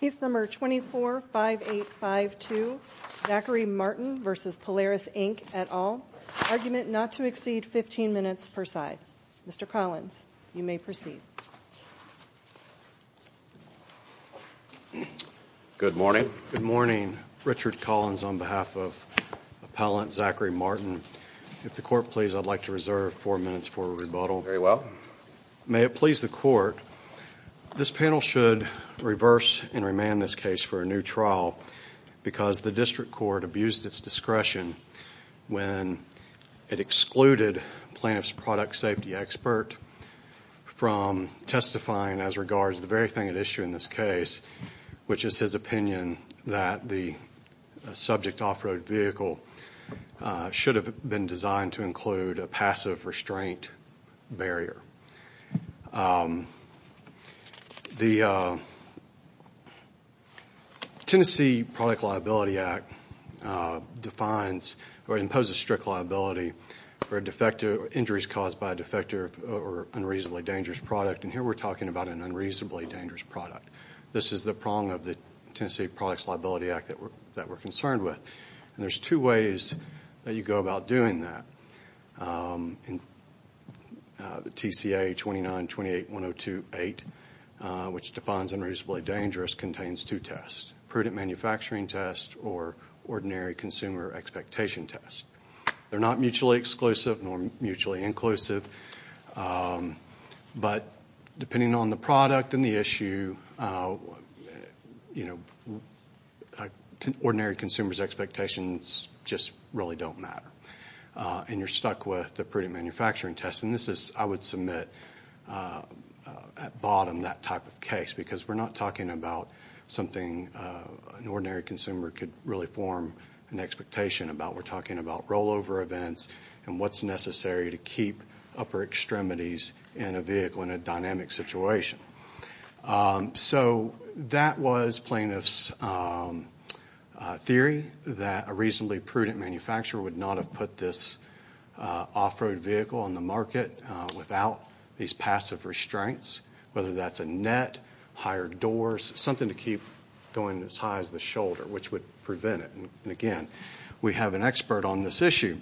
Case No. 24-5852, Zachary Martin v. Polaris, Inc., et al., argument not to exceed 15 minutes per side. Mr. Collins, you may proceed. Good morning. Good morning. Richard Collins on behalf of Appellant Zachary Martin. If the Court please, I'd like to reserve four minutes for rebuttal. Very well. May it please the Court, this panel should reverse and remand this case for a new trial because the District Court abused its discretion when it excluded plaintiff's product safety expert from testifying as regards to the very thing at issue in this case, which is his opinion that the subject off-road vehicle should have been designed to include a passive restraint barrier. The Tennessee Product Liability Act defines or imposes strict liability for injuries caused by a defective or unreasonably dangerous product, and here we're talking about an unreasonably dangerous product. This is the prong of the Tennessee Products Liability Act that we're concerned with, and there's two ways that you go about doing that. The TCA 2928.102.8, which defines unreasonably dangerous, contains two tests, prudent manufacturing test or ordinary consumer expectation test. They're not mutually exclusive nor mutually inclusive, but depending on the product and the issue, ordinary consumer's expectations just really don't matter, and you're stuck with the prudent manufacturing test. I would submit at bottom that type of case because we're not talking about something an ordinary consumer could really form an expectation about. We're talking about rollover events and what's necessary to keep upper extremities in a vehicle in a dynamic situation. So that was plaintiff's theory that a reasonably prudent manufacturer would not have put this off-road vehicle on the market without these passive restraints, whether that's a net, higher doors, something to keep going as high as the shoulder, which would prevent it. Again, we have an expert on this issue,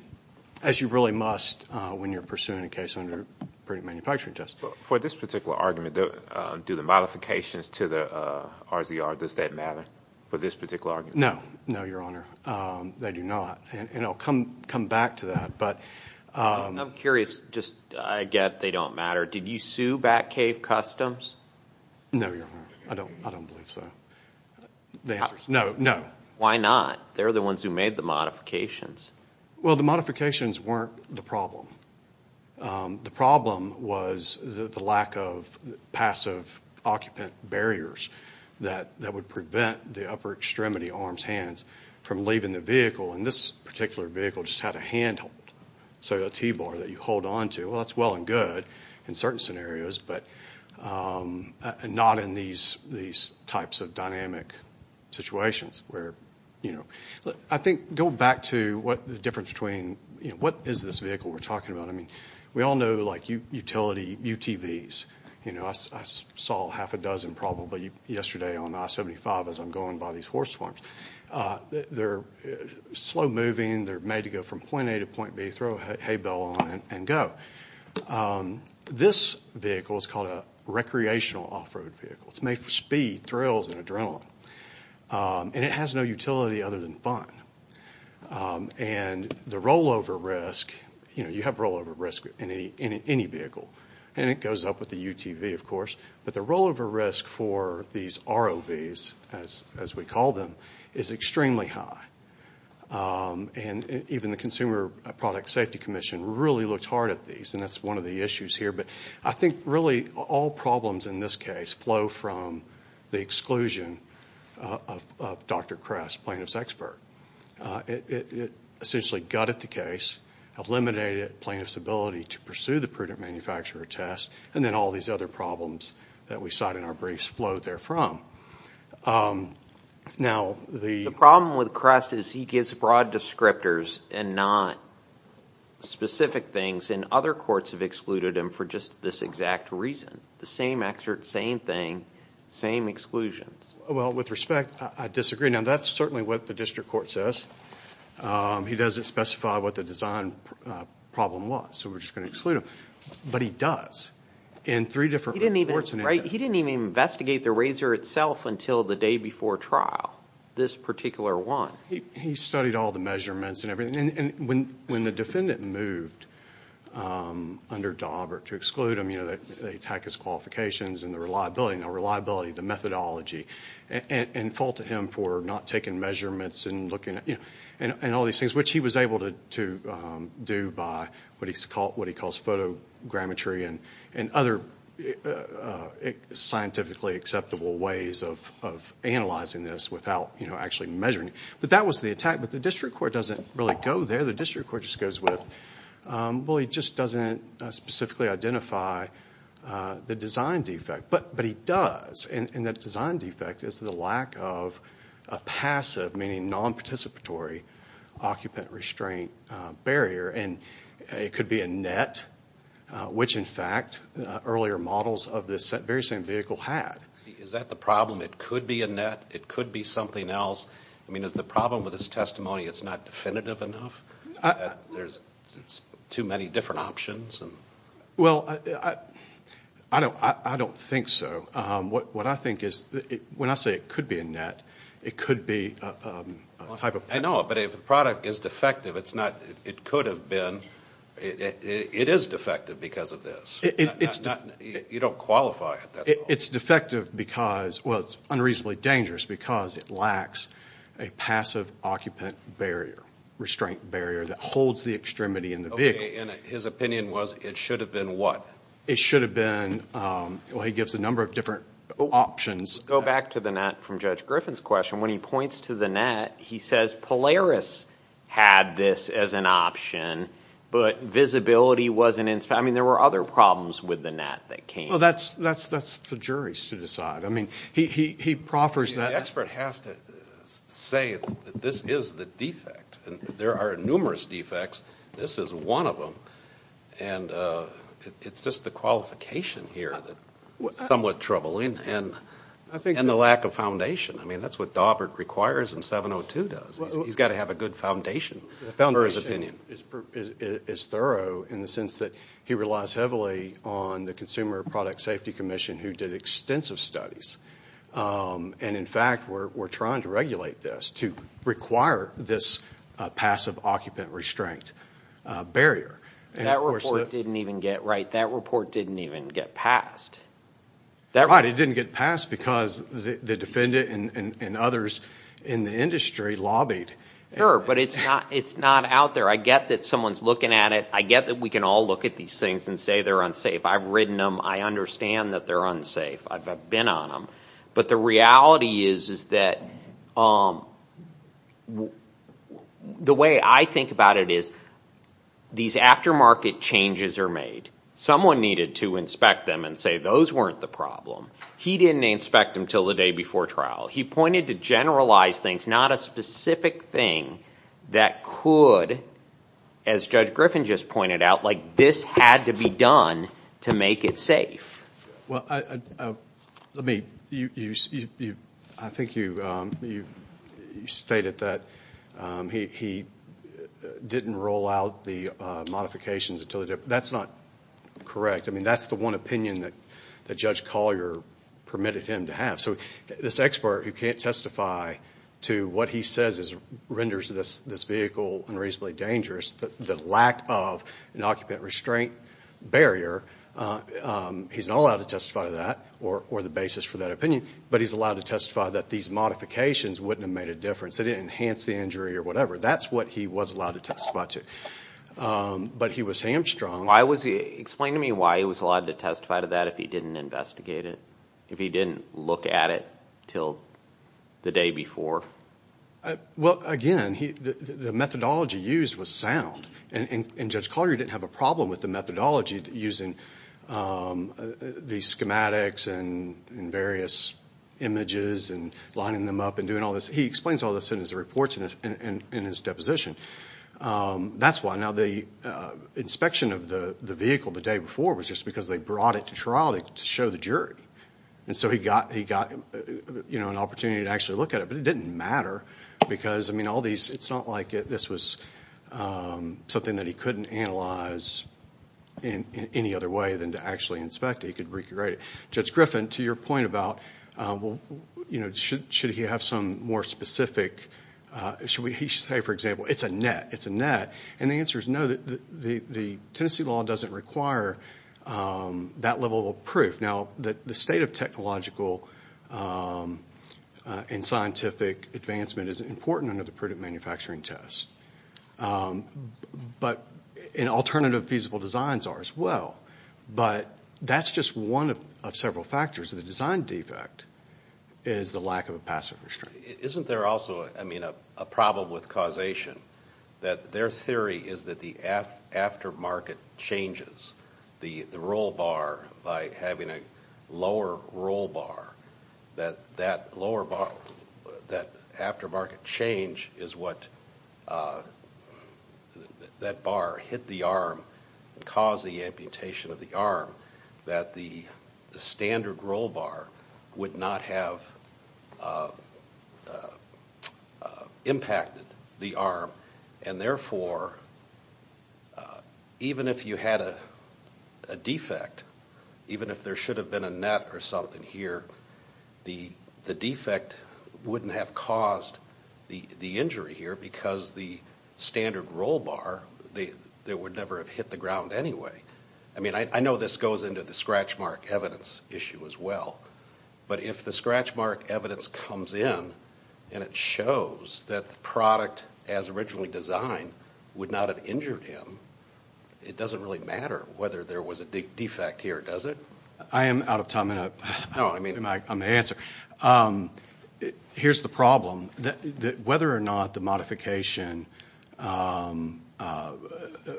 as you really must when you're pursuing a case under prudent manufacturing test. For this particular argument, do the modifications to the RZR, does that matter for this particular argument? No. No, Your Honor. They do not, and I'll come back to that, but... I'm curious. I get they don't matter. Did you sue Batcave Customs? No, Your Honor. I don't believe so. The answer is no. No. Why not? They're the ones who made the modifications. Well, the modifications weren't the problem. The problem was the lack of passive occupant barriers that would prevent the upper extremity, arms, hands, from leaving the vehicle, and this particular vehicle just had a handhold, so a T-bar that you hold onto. Well, that's well and good in certain scenarios, but not in these types of dynamic situations. I think, going back to the difference between what is this vehicle we're talking about, we all know like utility UTVs. I saw half a dozen probably yesterday on I-75 as I'm going by these horse farms. They're slow-moving. They're made to go from point A to point B, throw a hay bale on it and go. This vehicle is called a recreational off-road vehicle. It's made for speed, thrills, and adrenaline, and it has no utility other than fun. The rollover risk, you have rollover risk in any vehicle, and it goes up with the UTV, of course, but the rollover risk for these ROVs, as we call them, is extremely high. Even the Consumer Product Safety Commission really looks hard at these, and that's one of the issues here, but I think, really, all problems in this case flow from the exclusion of Dr. Kress, plaintiff's expert. It essentially gutted the case, eliminated plaintiff's ability to pursue the prudent manufacturer test, and then all these other problems that we cite in our briefs flowed there from. The problem with Kress is he gives broad descriptors and not specific things in other courts of law that excluded him for just this exact reason. The same excerpt, same thing, same exclusions. Well, with respect, I disagree. That's certainly what the district court says. He doesn't specify what the design problem was, so we're just going to exclude him, but he does in three different courts. He didn't even investigate the RZR itself until the day before trial, this particular one. He studied all the measurements and everything, and when the defendant moved under Daubert to exclude him, they attack his qualifications and the reliability, the methodology, and faulted him for not taking measurements and looking at all these things, which he was able to do by what he calls photogrammetry and other scientifically acceptable ways of analyzing this without actually measuring it. That was the attack, but the district court doesn't really go there. The district court just goes with, well, he just doesn't specifically identify the design defect, but he does, and that design defect is the lack of a passive, meaning non-participatory occupant restraint barrier, and it could be a net, which, in fact, earlier models of this very same vehicle had. Is that the problem? It could be a net. It could be something else. I mean, is the problem with this testimony it's not definitive enough? There's too many different options? Well, I don't think so. What I think is, when I say it could be a net, it could be a type of... I know, but if the product is defective, it's not, it could have been, it is defective because of this. You don't qualify at that level. It's defective because, well, it's unreasonably dangerous because it lacks a passive occupant barrier, restraint barrier that holds the extremity in the vehicle. His opinion was it should have been what? It should have been, well, he gives a number of different options. Go back to the net from Judge Griffin's question. When he points to the net, he says Polaris had this as an option, but visibility wasn't... I mean, there were other problems with the net that came. Well, that's for juries to decide. I mean, he proffers that... The expert has to say that this is the defect. There are numerous defects. This is one of them. And it's just the qualification here that's somewhat troubling and the lack of foundation. I mean, that's what Dawbert requires and 702 does. He's got to have a good foundation for his opinion. His opinion is thorough in the sense that he relies heavily on the Consumer Product Safety Commission who did extensive studies. And, in fact, we're trying to regulate this to require this passive occupant restraint barrier. That report didn't even get passed. Right, it didn't get passed because the defendant and others in the industry lobbied. Sure, but it's not out there. I get that someone's looking at it. I get that we can all look at these things and say they're unsafe. I've ridden them. I understand that they're unsafe. I've been on them. But the reality is that the way I think about it is these aftermarket changes are made. Someone needed to inspect them and say those weren't the problem. He didn't inspect them until the day before trial. He pointed to generalized things, not a specific thing that could, as Judge Griffin just pointed out, like this had to be done to make it safe. Well, let me, I think you stated that he didn't roll out the modifications until the day before. That's not correct. I mean, that's the one opinion that Judge Collier permitted him to have. So this expert who can't testify to what he says renders this vehicle unreasonably dangerous, the lack of an occupant restraint barrier, he's not allowed to testify to that or the basis for that opinion, but he's allowed to testify that these modifications wouldn't have made a difference. They didn't enhance the injury or whatever. That's what he was allowed to testify to. But he was hamstrung. Explain to me why he was allowed to testify to that if he didn't investigate it, if he didn't look at it until the day before. Well, again, the methodology used was sound. And Judge Collier didn't have a problem with the methodology using the schematics and various images and lining them up and doing all this. He explains all this in his reports and in his deposition. That's why. Now, the inspection of the vehicle the day before was just because they brought it to trial to show the jury. And so he got an opportunity to actually look at it. But it didn't matter because, I mean, all these, it's not like this was something that he couldn't analyze in any other way than to actually inspect it. He could recreate it. Judge Griffin, to your point about should he have some more specific, should he say, for example, it's a net, it's a net. And the answer is no, the Tennessee law doesn't require that level of proof. Now, the state of technological and scientific advancement is important under the prudent manufacturing test. And alternative feasible designs are as well. But that's just one of several factors. The design defect is the lack of a passive restraint. Isn't there also, I mean, a problem with causation that their theory is that the aftermarket changes the roll bar by having a lower roll bar, that that lower bar, that aftermarket change is what that bar hit the arm and caused the amputation of the arm, that the standard roll bar would not have impacted the arm. And therefore, even if you had a defect, even if there should have been a net or something here, the defect wouldn't have caused the injury here because the standard roll bar, it would never have hit the ground anyway. I mean, I know this goes into the scratch mark evidence issue as well. But if the scratch mark evidence comes in and it shows that the product as originally designed would not have injured him, it doesn't really matter whether there was a defect here, does it? I am out of time. I'm going to answer. Here's the problem. Whether or not the modification was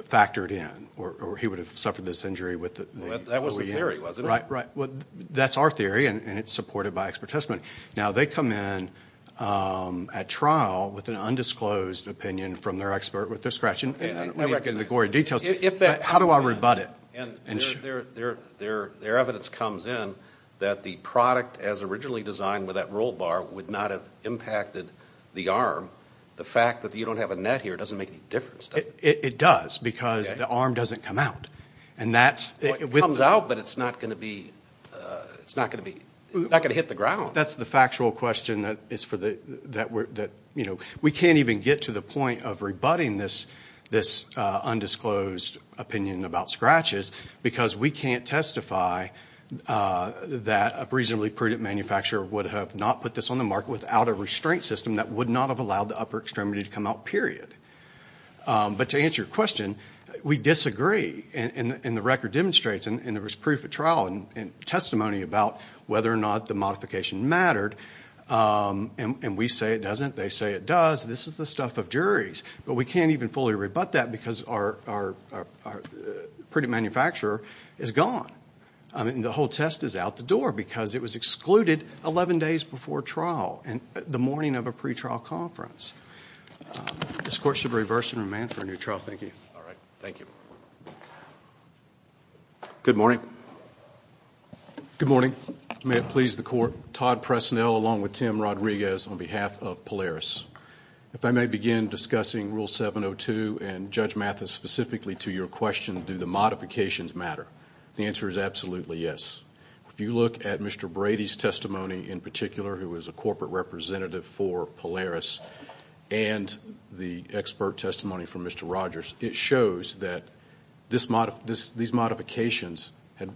factored in, or he would have suffered this injury with the OEM. Well, that was the theory, wasn't it? Right, right. Well, that's our theory and it's supported by expert testimony. Now, they come in at trial with an undisclosed opinion from their expert with their scratch. And I don't want to get into the gory details, but how do I rebut it? Their evidence comes in that the product as originally designed with that roll bar would not have impacted the arm. The fact that you don't have a net here doesn't make any difference, does it? It does because the arm doesn't come out. It comes out, but it's not going to hit the ground. That's the factual question. We can't even get to the point of rebutting this undisclosed opinion about scratches because we can't testify that a reasonably prudent manufacturer would have not put this on the market without a restraint system that would not have allowed the upper extremity to come out, period. But to answer your question, we disagree. And the record demonstrates, and there was proof at trial and testimony about whether or not the modification mattered. And we say it doesn't, they say it does. This is the stuff of juries. But we can't even fully rebut that because our prudent manufacturer is gone. I mean, the whole test is out the door because it was excluded 11 days before trial, the morning of a pretrial conference. This Court should reverse and remand for a new trial. Thank you. All right. Thank you. Good morning. Good morning. May it please the Court. Todd Presnell along with Tim Rodriguez on behalf of Polaris. If I may begin discussing Rule 702 and Judge Mathis specifically to your question, do the modifications matter? The answer is absolutely yes. If you look at Mr. Brady's testimony in particular, who was a corporate representative for Polaris, and the expert testimony from Mr. Rogers, it shows that these modifications had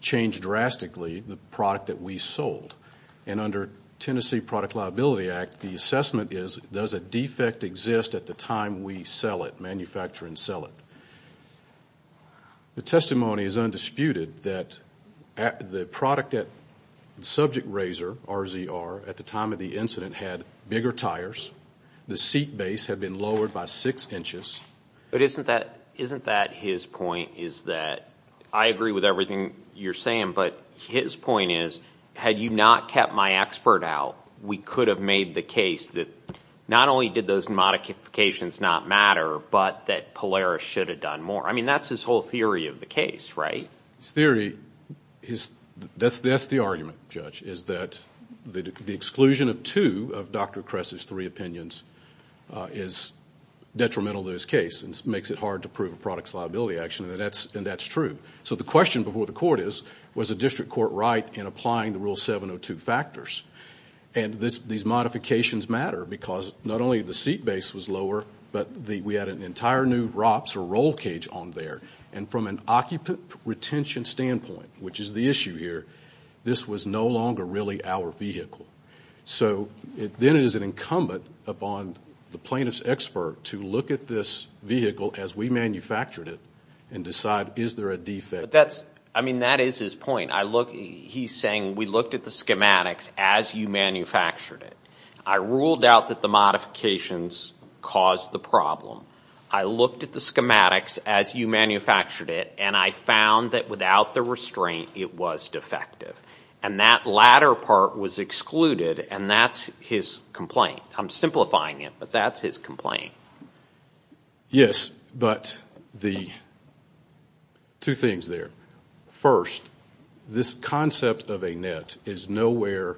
changed drastically the product that we sold. And under Tennessee Product Liability Act, the assessment is, does a defect exist at the time we sell it, manufacture and sell it? The testimony is undisputed that the product at subject razor, RZR, at the time of the incident had bigger tires. The seat base had been lowered by six inches. But isn't that his point is that, I agree with everything you're saying, but his point is, had you not kept my expert out, we could have made the case that not only did those modifications not matter, but that Polaris should have done more. I mean, that's his whole theory of the case, right? His theory is, that's the argument, Judge, is that the exclusion of two of Dr. Kress's three opinions is detrimental to his case and makes it hard to prove a product's liability action, and that's true. So the question before the court is, was the district court right in applying the Rule 702 factors? And these modifications matter because not only the seat base was lower, but we had an entire new ROPS or roll cage on there. And from an occupant retention standpoint, which is the issue here, this was no longer really our vehicle. So then it is an incumbent upon the plaintiff's expert to look at this vehicle as we That is his point. He's saying, we looked at the schematics as you manufactured it. I ruled out that the modifications caused the problem. I looked at the schematics as you manufactured it, and I found that without the restraint, it was defective. And that latter part was excluded, and that's his complaint. I'm simplifying it, but that's his complaint. Yes, but the two things there. First, this concept of a net is nowhere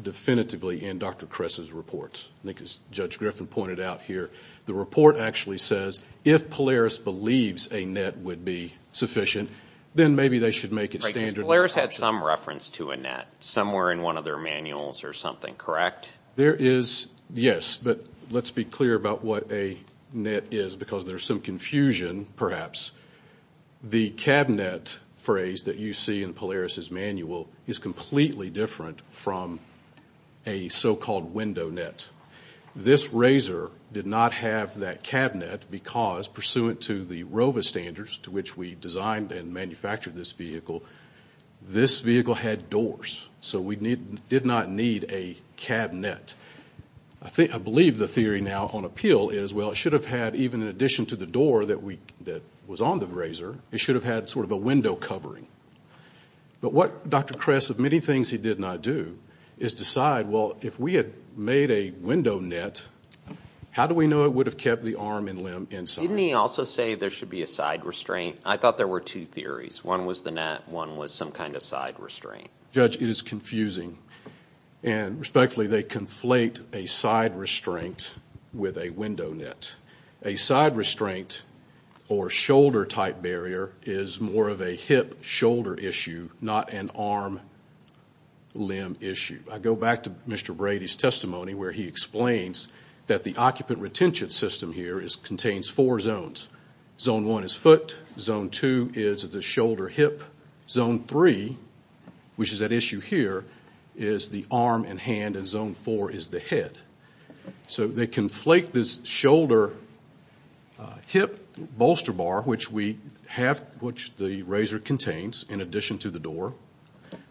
definitively in Dr. Kress's reports. I think as Judge Griffin pointed out here, the report actually says if Polaris believes a net would be sufficient, then maybe they should make it standard. Polaris had some reference to a net somewhere in one of their manuals or something, correct? There is, yes, but let's be clear about what a net is because there's some confusion, perhaps. The cabinet phrase that you see in Polaris's manual is completely different from a so-called window net. This RZR did not have that cabinet because, pursuant to the ROVA standards to which we designed and manufactured this vehicle, this vehicle had doors. So we did not need a cabinet. I believe the theory now on appeal is, well, it should have had, even in addition to the door that was on the RZR, it should have had sort of a window covering. But what Dr. Kress, of many things he did not do, is decide, well, if we had made a window net, how do we know it would have kept the arm and limb inside? Didn't he also say there should be a side restraint? I thought there were two theories. One was the net, one was some kind of side restraint. Judge, it is confusing. And respectfully, they conflate a side restraint with a window net. A side restraint or shoulder-type barrier is more of a hip-shoulder issue, not an arm-limb issue. I go back to Mr. Brady's testimony where he explains that the occupant retention system here contains four zones. Zone one is foot, zone two is the shoulder-hip, zone three, which is that issue here, is the arm and hand, and zone four is the head. So they conflate this shoulder-hip bolster bar, which the RZR contains in addition to the door,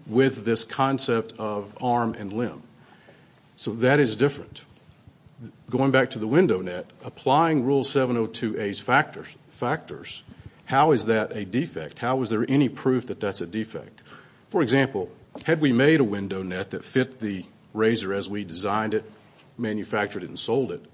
with this concept of arm and limb. So that is different. Going back to the window net, applying Rule 702A's factors, how is that a defect? How is there any proof that that's a defect? For example, had we made a window net that fit the RZR as we designed it, manufactured it, and sold it, it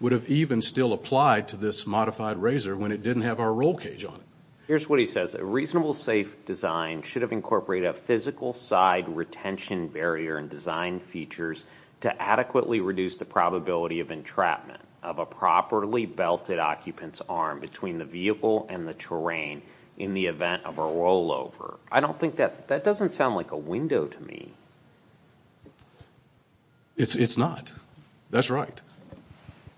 would have even still applied to this modified RZR when it didn't have our roll cage on it. Here's what he says. A reasonable, safe design should have incorporated a physical side retention barrier and design features to adequately reduce the probability of entrapment of a properly belted occupant's arm between the vehicle and the terrain in the event of a rollover. I don't think that, that doesn't sound like a window to me. It's not. That's right.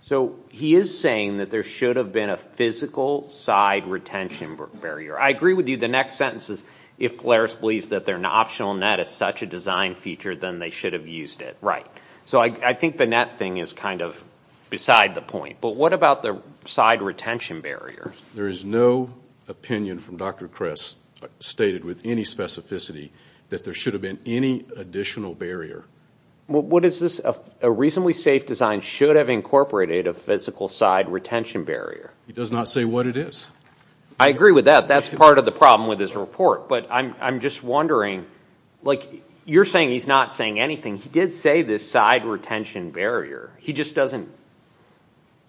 So he is saying that there should have been a physical side retention barrier. I agree with you. The next sentence is, if Polaris believes that their optional net is such a design feature, then they should have used it. Right. So I think the net thing is kind of beside the point. But what about the side retention barrier? There is no opinion from Dr. Kress stated with any specificity that there should have been any additional barrier. What is this? A reasonably safe design should have incorporated a physical side retention barrier. He does not say what it is. I agree with that. That's part of the problem with his report. But I'm just wondering, like you're saying he's not saying anything. He did say the side retention barrier. He just doesn't.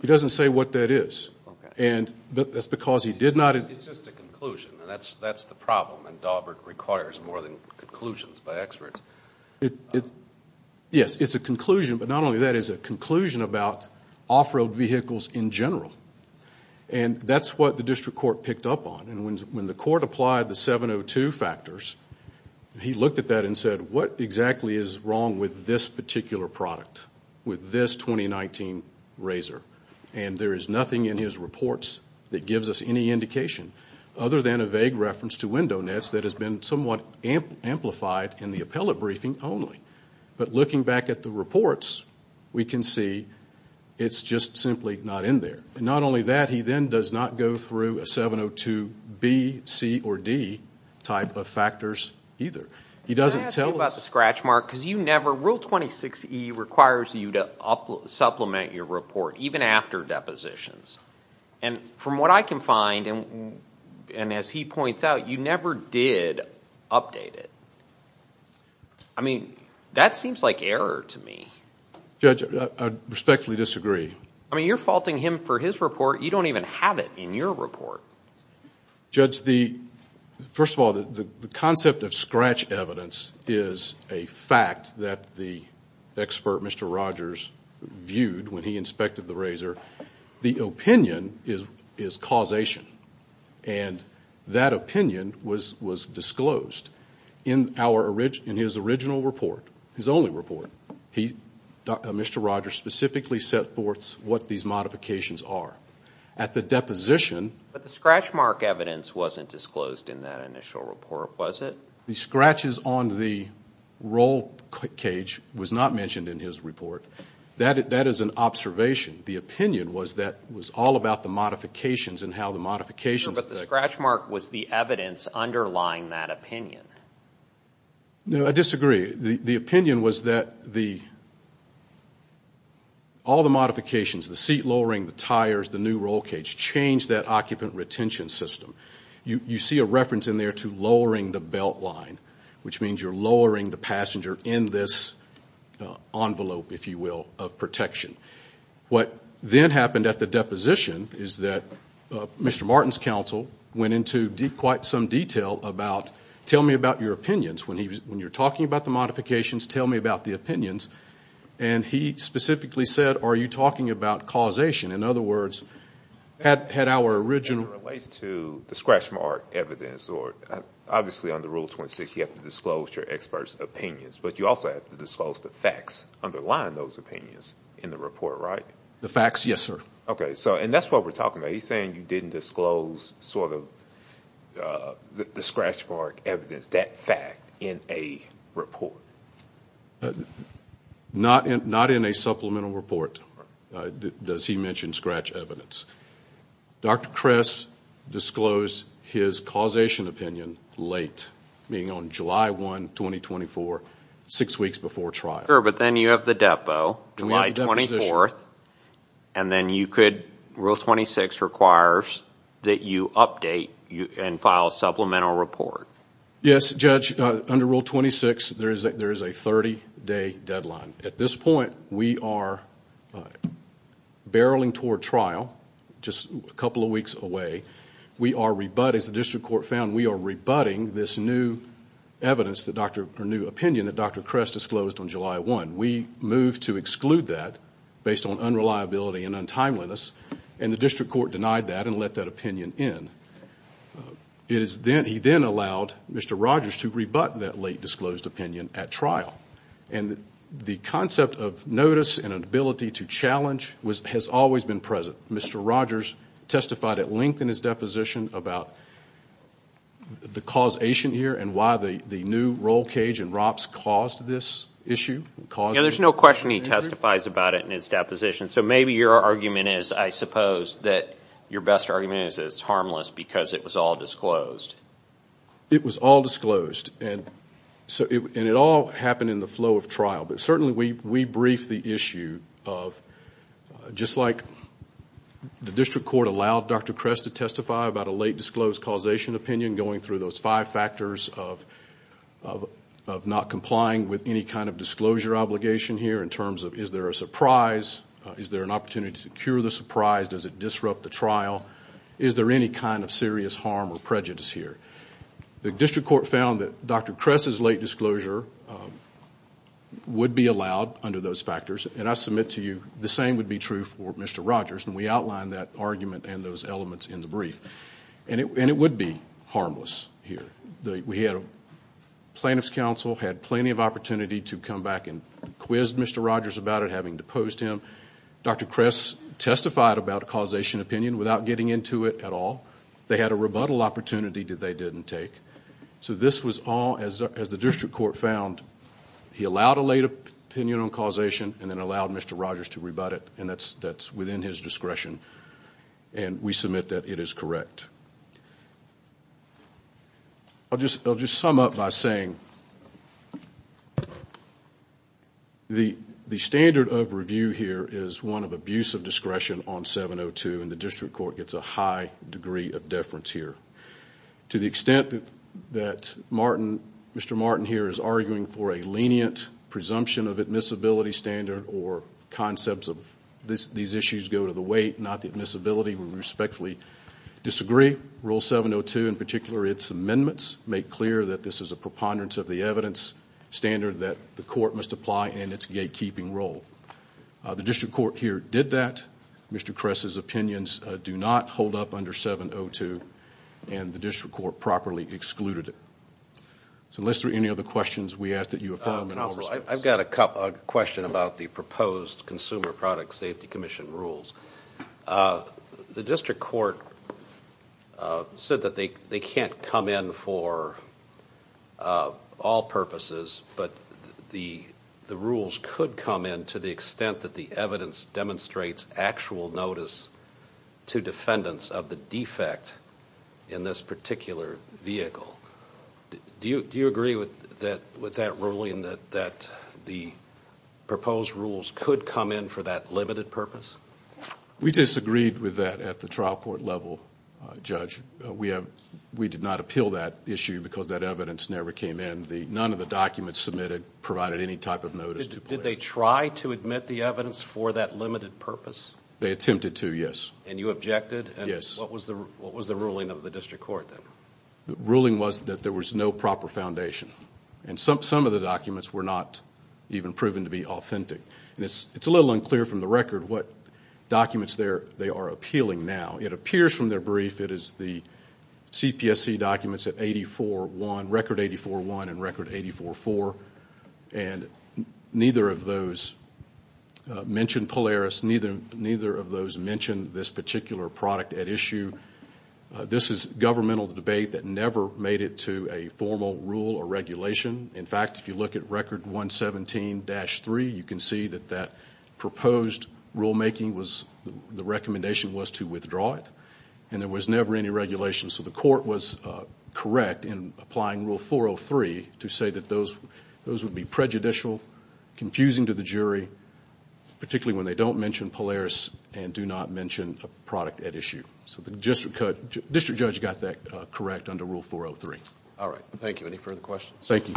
He doesn't say what that is. And that's because he did not. It's just a conclusion. And that's the problem. And Daubert requires more than conclusions by experts. Yes, it's a conclusion. But not only that, it's a conclusion about off-road vehicles in general. And that's what the district court picked up on. And when the court applied the 702 factors, he looked at that and said, what exactly is wrong with this particular product, with this 2019 RZR? And there is nothing in his reports that gives us any indication other than a vague reference to window nets that has been somewhat amplified in the appellate briefing only. But looking back at the reports, we can see it's just simply not in there. Not only that, he then does not go through a 702B, C, or D type of factors either. He doesn't tell us. Can I ask you about the scratch mark? Because you never rule 26E requires you to supplement your report, even after depositions. And from what I can find, and as he points out, you never did update it. I mean, that seems like error to me. Judge, I respectfully disagree. I mean, you're faulting him for his report. You don't even have it in your report. Judge, first of all, the concept of scratch evidence is a fact that the expert, Mr. Rogers, viewed when he inspected the RZR. The opinion is causation. And that opinion was disclosed. In his original report, his only report, Mr. Rogers specifically set forth what these modifications are. At the deposition. But the scratch mark evidence wasn't disclosed in that initial report, was it? The scratches on the roll cage was not mentioned in his report. That is an observation. The opinion was that it was all about the modifications and how the modifications affect. But the scratch mark was the evidence underlying that opinion. No, I disagree. The opinion was that all the modifications, the seat lowering, the tires, the new roll cage, changed that occupant retention system. You see a reference in there to lowering the belt line, which means you're lowering the passenger in this envelope, if you will, of protection. What then happened at the deposition is that Mr. Martin's counsel went into quite some detail about tell me about your opinions when you're talking about the modifications, tell me about the opinions. And he specifically said, are you talking about causation? In other words, had our original. That relates to the scratch mark evidence. Obviously, under Rule 26, you have to disclose your expert's opinions. But you also have to disclose the facts underlying those opinions in the report, right? The facts, yes, sir. Okay. And that's what we're talking about. He's saying you didn't disclose sort of the scratch mark evidence, that fact. In a report. Not in a supplemental report does he mention scratch evidence. Dr. Kress disclosed his causation opinion late, being on July 1, 2024, six weeks before trial. Sure, but then you have the depo, July 24th. And then you could, Rule 26 requires that you update and file a supplemental report. Yes, Judge. Under Rule 26, there is a 30-day deadline. At this point, we are barreling toward trial, just a couple of weeks away. We are rebutting, as the district court found, we are rebutting this new opinion that Dr. Kress disclosed on July 1. We moved to exclude that based on unreliability and untimeliness, and the district court denied that and let that opinion in. He then allowed Mr. Rogers to rebut that late disclosed opinion at trial. And the concept of notice and an ability to challenge has always been present. Mr. Rogers testified at length in his deposition about the causation here and why the new roll cage and ROPS caused this issue. Yeah, there's no question he testifies about it in his deposition. So maybe your argument is, I suppose, that your best argument is that it's harmless because it was all disclosed. It was all disclosed, and it all happened in the flow of trial. But certainly we briefed the issue of, just like the district court allowed Dr. Kress to testify about a late disclosed causation opinion, going through those five factors of not complying with any kind of disclosure obligation here in terms of, is there a surprise? Is there an opportunity to cure the surprise? Does it disrupt the trial? Is there any kind of serious harm or prejudice here? The district court found that Dr. Kress's late disclosure would be allowed under those factors, and I submit to you the same would be true for Mr. Rogers, and we outlined that argument and those elements in the brief. And it would be harmless here. The plaintiff's counsel had plenty of opportunity to come back and quiz Mr. Rogers about it, having deposed him. Dr. Kress testified about a causation opinion without getting into it at all. They had a rebuttal opportunity that they didn't take. So this was all, as the district court found, he allowed a late opinion on causation and then allowed Mr. Rogers to rebut it, and that's within his discretion, and we submit that it is correct. I'll just sum up by saying the standard of review here is one of abuse of discretion on 702, and the district court gets a high degree of deference here. To the extent that Mr. Martin here is arguing for a lenient presumption of admissibility standard or concepts of these issues go to the weight, not the admissibility, we respectfully disagree. Rule 702, in particular, its amendments, make clear that this is a preponderance of the evidence standard that the court must apply in its gatekeeping role. The district court here did that. Mr. Kress's opinions do not hold up under 702, and the district court properly excluded it. So unless there are any other questions, we ask that you affirm and overrule. I've got a question about the proposed Consumer Product Safety Commission rules. The district court said that they can't come in for all purposes, but the rules could come in to the extent that the evidence demonstrates actual notice to defendants of the defect in this particular vehicle. Do you agree with that ruling that the proposed rules could come in for that limited purpose? We disagreed with that at the trial court level, Judge. We did not appeal that issue because that evidence never came in. None of the documents submitted provided any type of notice to police. Did they try to admit the evidence for that limited purpose? They attempted to, yes. And you objected? Yes. What was the ruling of the district court then? The ruling was that there was no proper foundation, and some of the documents were not even proven to be authentic. It's a little unclear from the record what documents they are appealing now. It appears from their brief it is the CPSC documents at 84-1, record 84-1 and record 84-4, and neither of those mention Polaris. Neither of those mention this particular product at issue. This is governmental debate that never made it to a formal rule or regulation. In fact, if you look at record 117-3, you can see that that proposed rulemaking was the recommendation was to withdraw it, and there was never any regulation. So the court was correct in applying rule 403 to say that those would be prejudicial, confusing to the jury, particularly when they don't mention Polaris and do not mention a product at issue. So the district judge got that correct under rule 403. All right. Thank you. Any further questions? Thank you.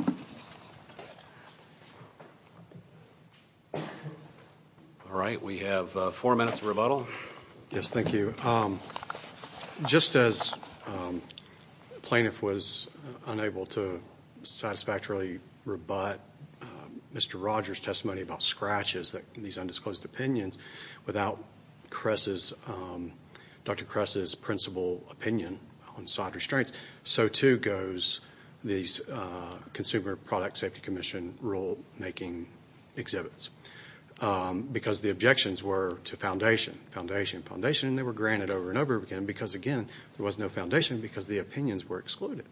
All right. We have four minutes of rebuttal. Yes, thank you. Just as plaintiff was unable to satisfactorily rebut Mr. Rogers' testimony about scratches, these undisclosed opinions, without Dr. Kress' principal opinion on side restraints, so too goes these Consumer Product Safety Commission rulemaking exhibits because the objections were to foundation, foundation, foundation, and they were granted over and over again because, again, there was no foundation because the opinions were excluded.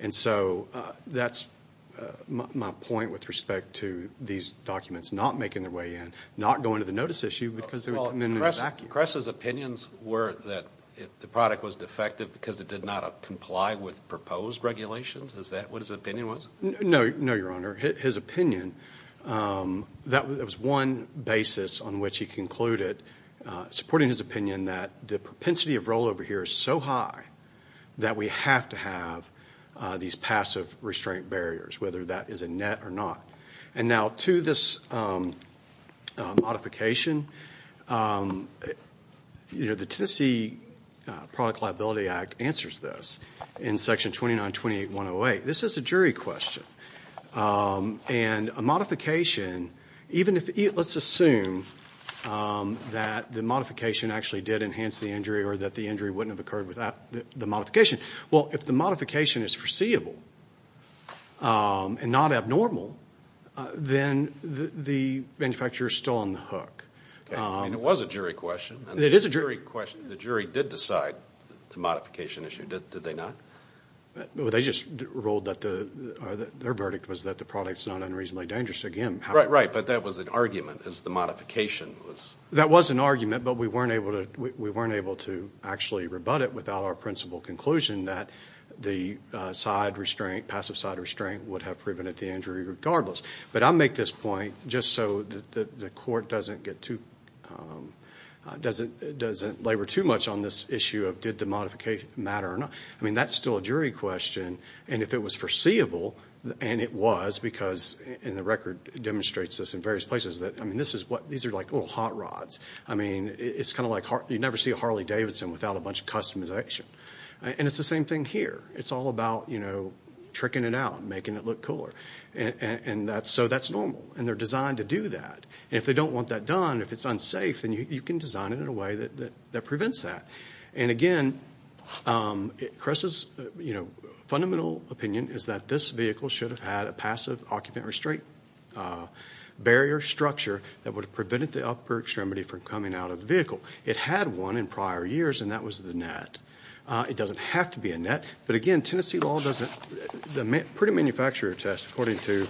And so that's my point with respect to these documents not making their way in, not going to the notice issue because they would come in and evacuate. Kress' opinions were that the product was defective because it did not comply with proposed regulations. Is that what his opinion was? No, Your Honor. His opinion, that was one basis on which he concluded, supporting his opinion that the propensity of rollover here is so high that we have to have these passive restraint barriers, whether that is a net or not. And now to this modification, the Tennessee Product Liability Act answers this in Section 2928.108. This is a jury question, and a modification, even if let's assume that the modification actually did enhance the injury or that the injury wouldn't have occurred without the modification. Well, if the modification is foreseeable and not abnormal, then the manufacturer is still on the hook. It was a jury question. It is a jury question. The jury did decide the modification issue, did they not? They just ruled that their verdict was that the product is not unreasonably dangerous. Right, right, but that was an argument as the modification was. That was an argument, but we weren't able to actually rebut it without our principal conclusion that the side restraint, passive side restraint would have prevented the injury regardless. But I make this point just so that the court doesn't get too, doesn't labor too much on this issue of did the modification matter or not. I mean, that's still a jury question, and if it was foreseeable, and it was because, and the record demonstrates this in various places, that, I mean, this is what, these are like little hot rods. I mean, it's kind of like you never see a Harley Davidson without a bunch of customization. And it's the same thing here. It's all about, you know, tricking it out and making it look cooler. And so that's normal, and they're designed to do that. And if they don't want that done, if it's unsafe, then you can design it in a way that prevents that. And, again, Chris's, you know, fundamental opinion is that this vehicle should have had a passive occupant restraint barrier structure that would have prevented the upper extremity from coming out of the vehicle. It had one in prior years, and that was the net. It doesn't have to be a net. But, again, Tennessee law doesn't, the pretty manufacturer test according to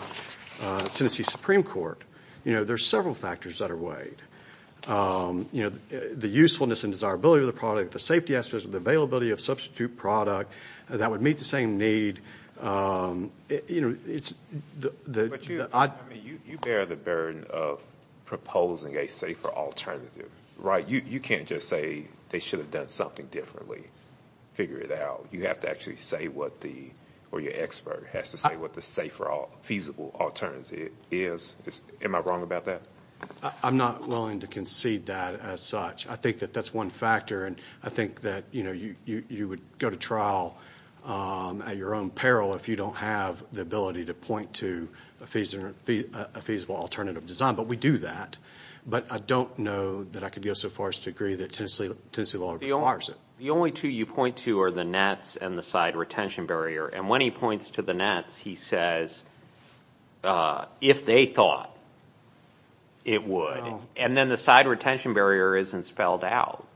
Tennessee Supreme Court, you know, there's several factors that are weighed. You know, the usefulness and desirability of the product, the safety aspects of the availability of substitute product that would meet the same need, you know, it's the odd. I mean, you bear the burden of proposing a safer alternative, right? You can't just say they should have done something differently, figure it out. You have to actually say what the, or your expert has to say, what the safer, feasible alternative is. Am I wrong about that? I'm not willing to concede that as such. I think that that's one factor, and I think that, you know, you would go to trial at your own peril if you don't have the ability to point to a feasible alternative design. But we do that. But I don't know that I could go so far as to agree that Tennessee law requires it. The only two you point to are the nets and the side retention barrier. And when he points to the nets, he says, if they thought it would. And then the side retention barrier isn't spelled out.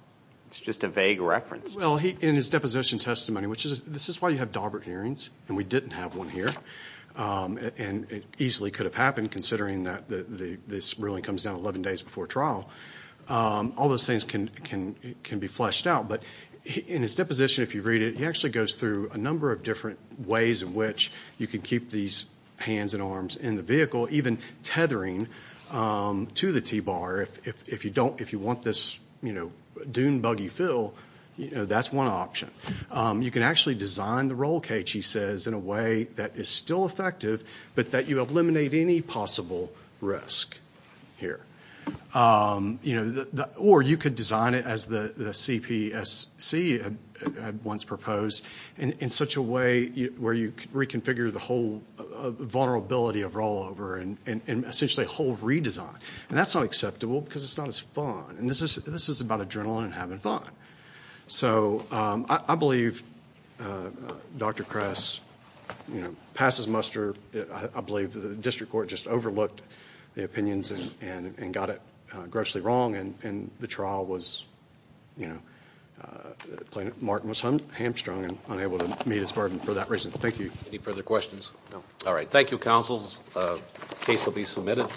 It's just a vague reference. Well, in his deposition testimony, which is, this is why you have Daubert hearings and we didn't have one here, and it easily could have happened considering that this ruling comes down 11 days before trial. All those things can be fleshed out. But in his deposition, if you read it, he actually goes through a number of different ways in which you can keep these hands and arms in the vehicle, even tethering to the T-bar if you want this dune buggy fill. That's one option. You can actually design the roll cage, he says, in a way that is still effective but that you eliminate any possible risk here. Or you could design it as the CPSC had once proposed in such a way where you reconfigure the whole vulnerability of rollover and essentially a whole redesign. And that's not acceptable because it's not as fun. And this is about adrenaline and having fun. So I believe Dr. Kress passed his muster. I believe the district court just overlooked the opinions and got it grossly wrong. And the trial was, you know, Martin was hamstrung and unable to meet his burden for that reason. Thank you. Any further questions? No. All right. Thank you, counsels. The case will be submitted.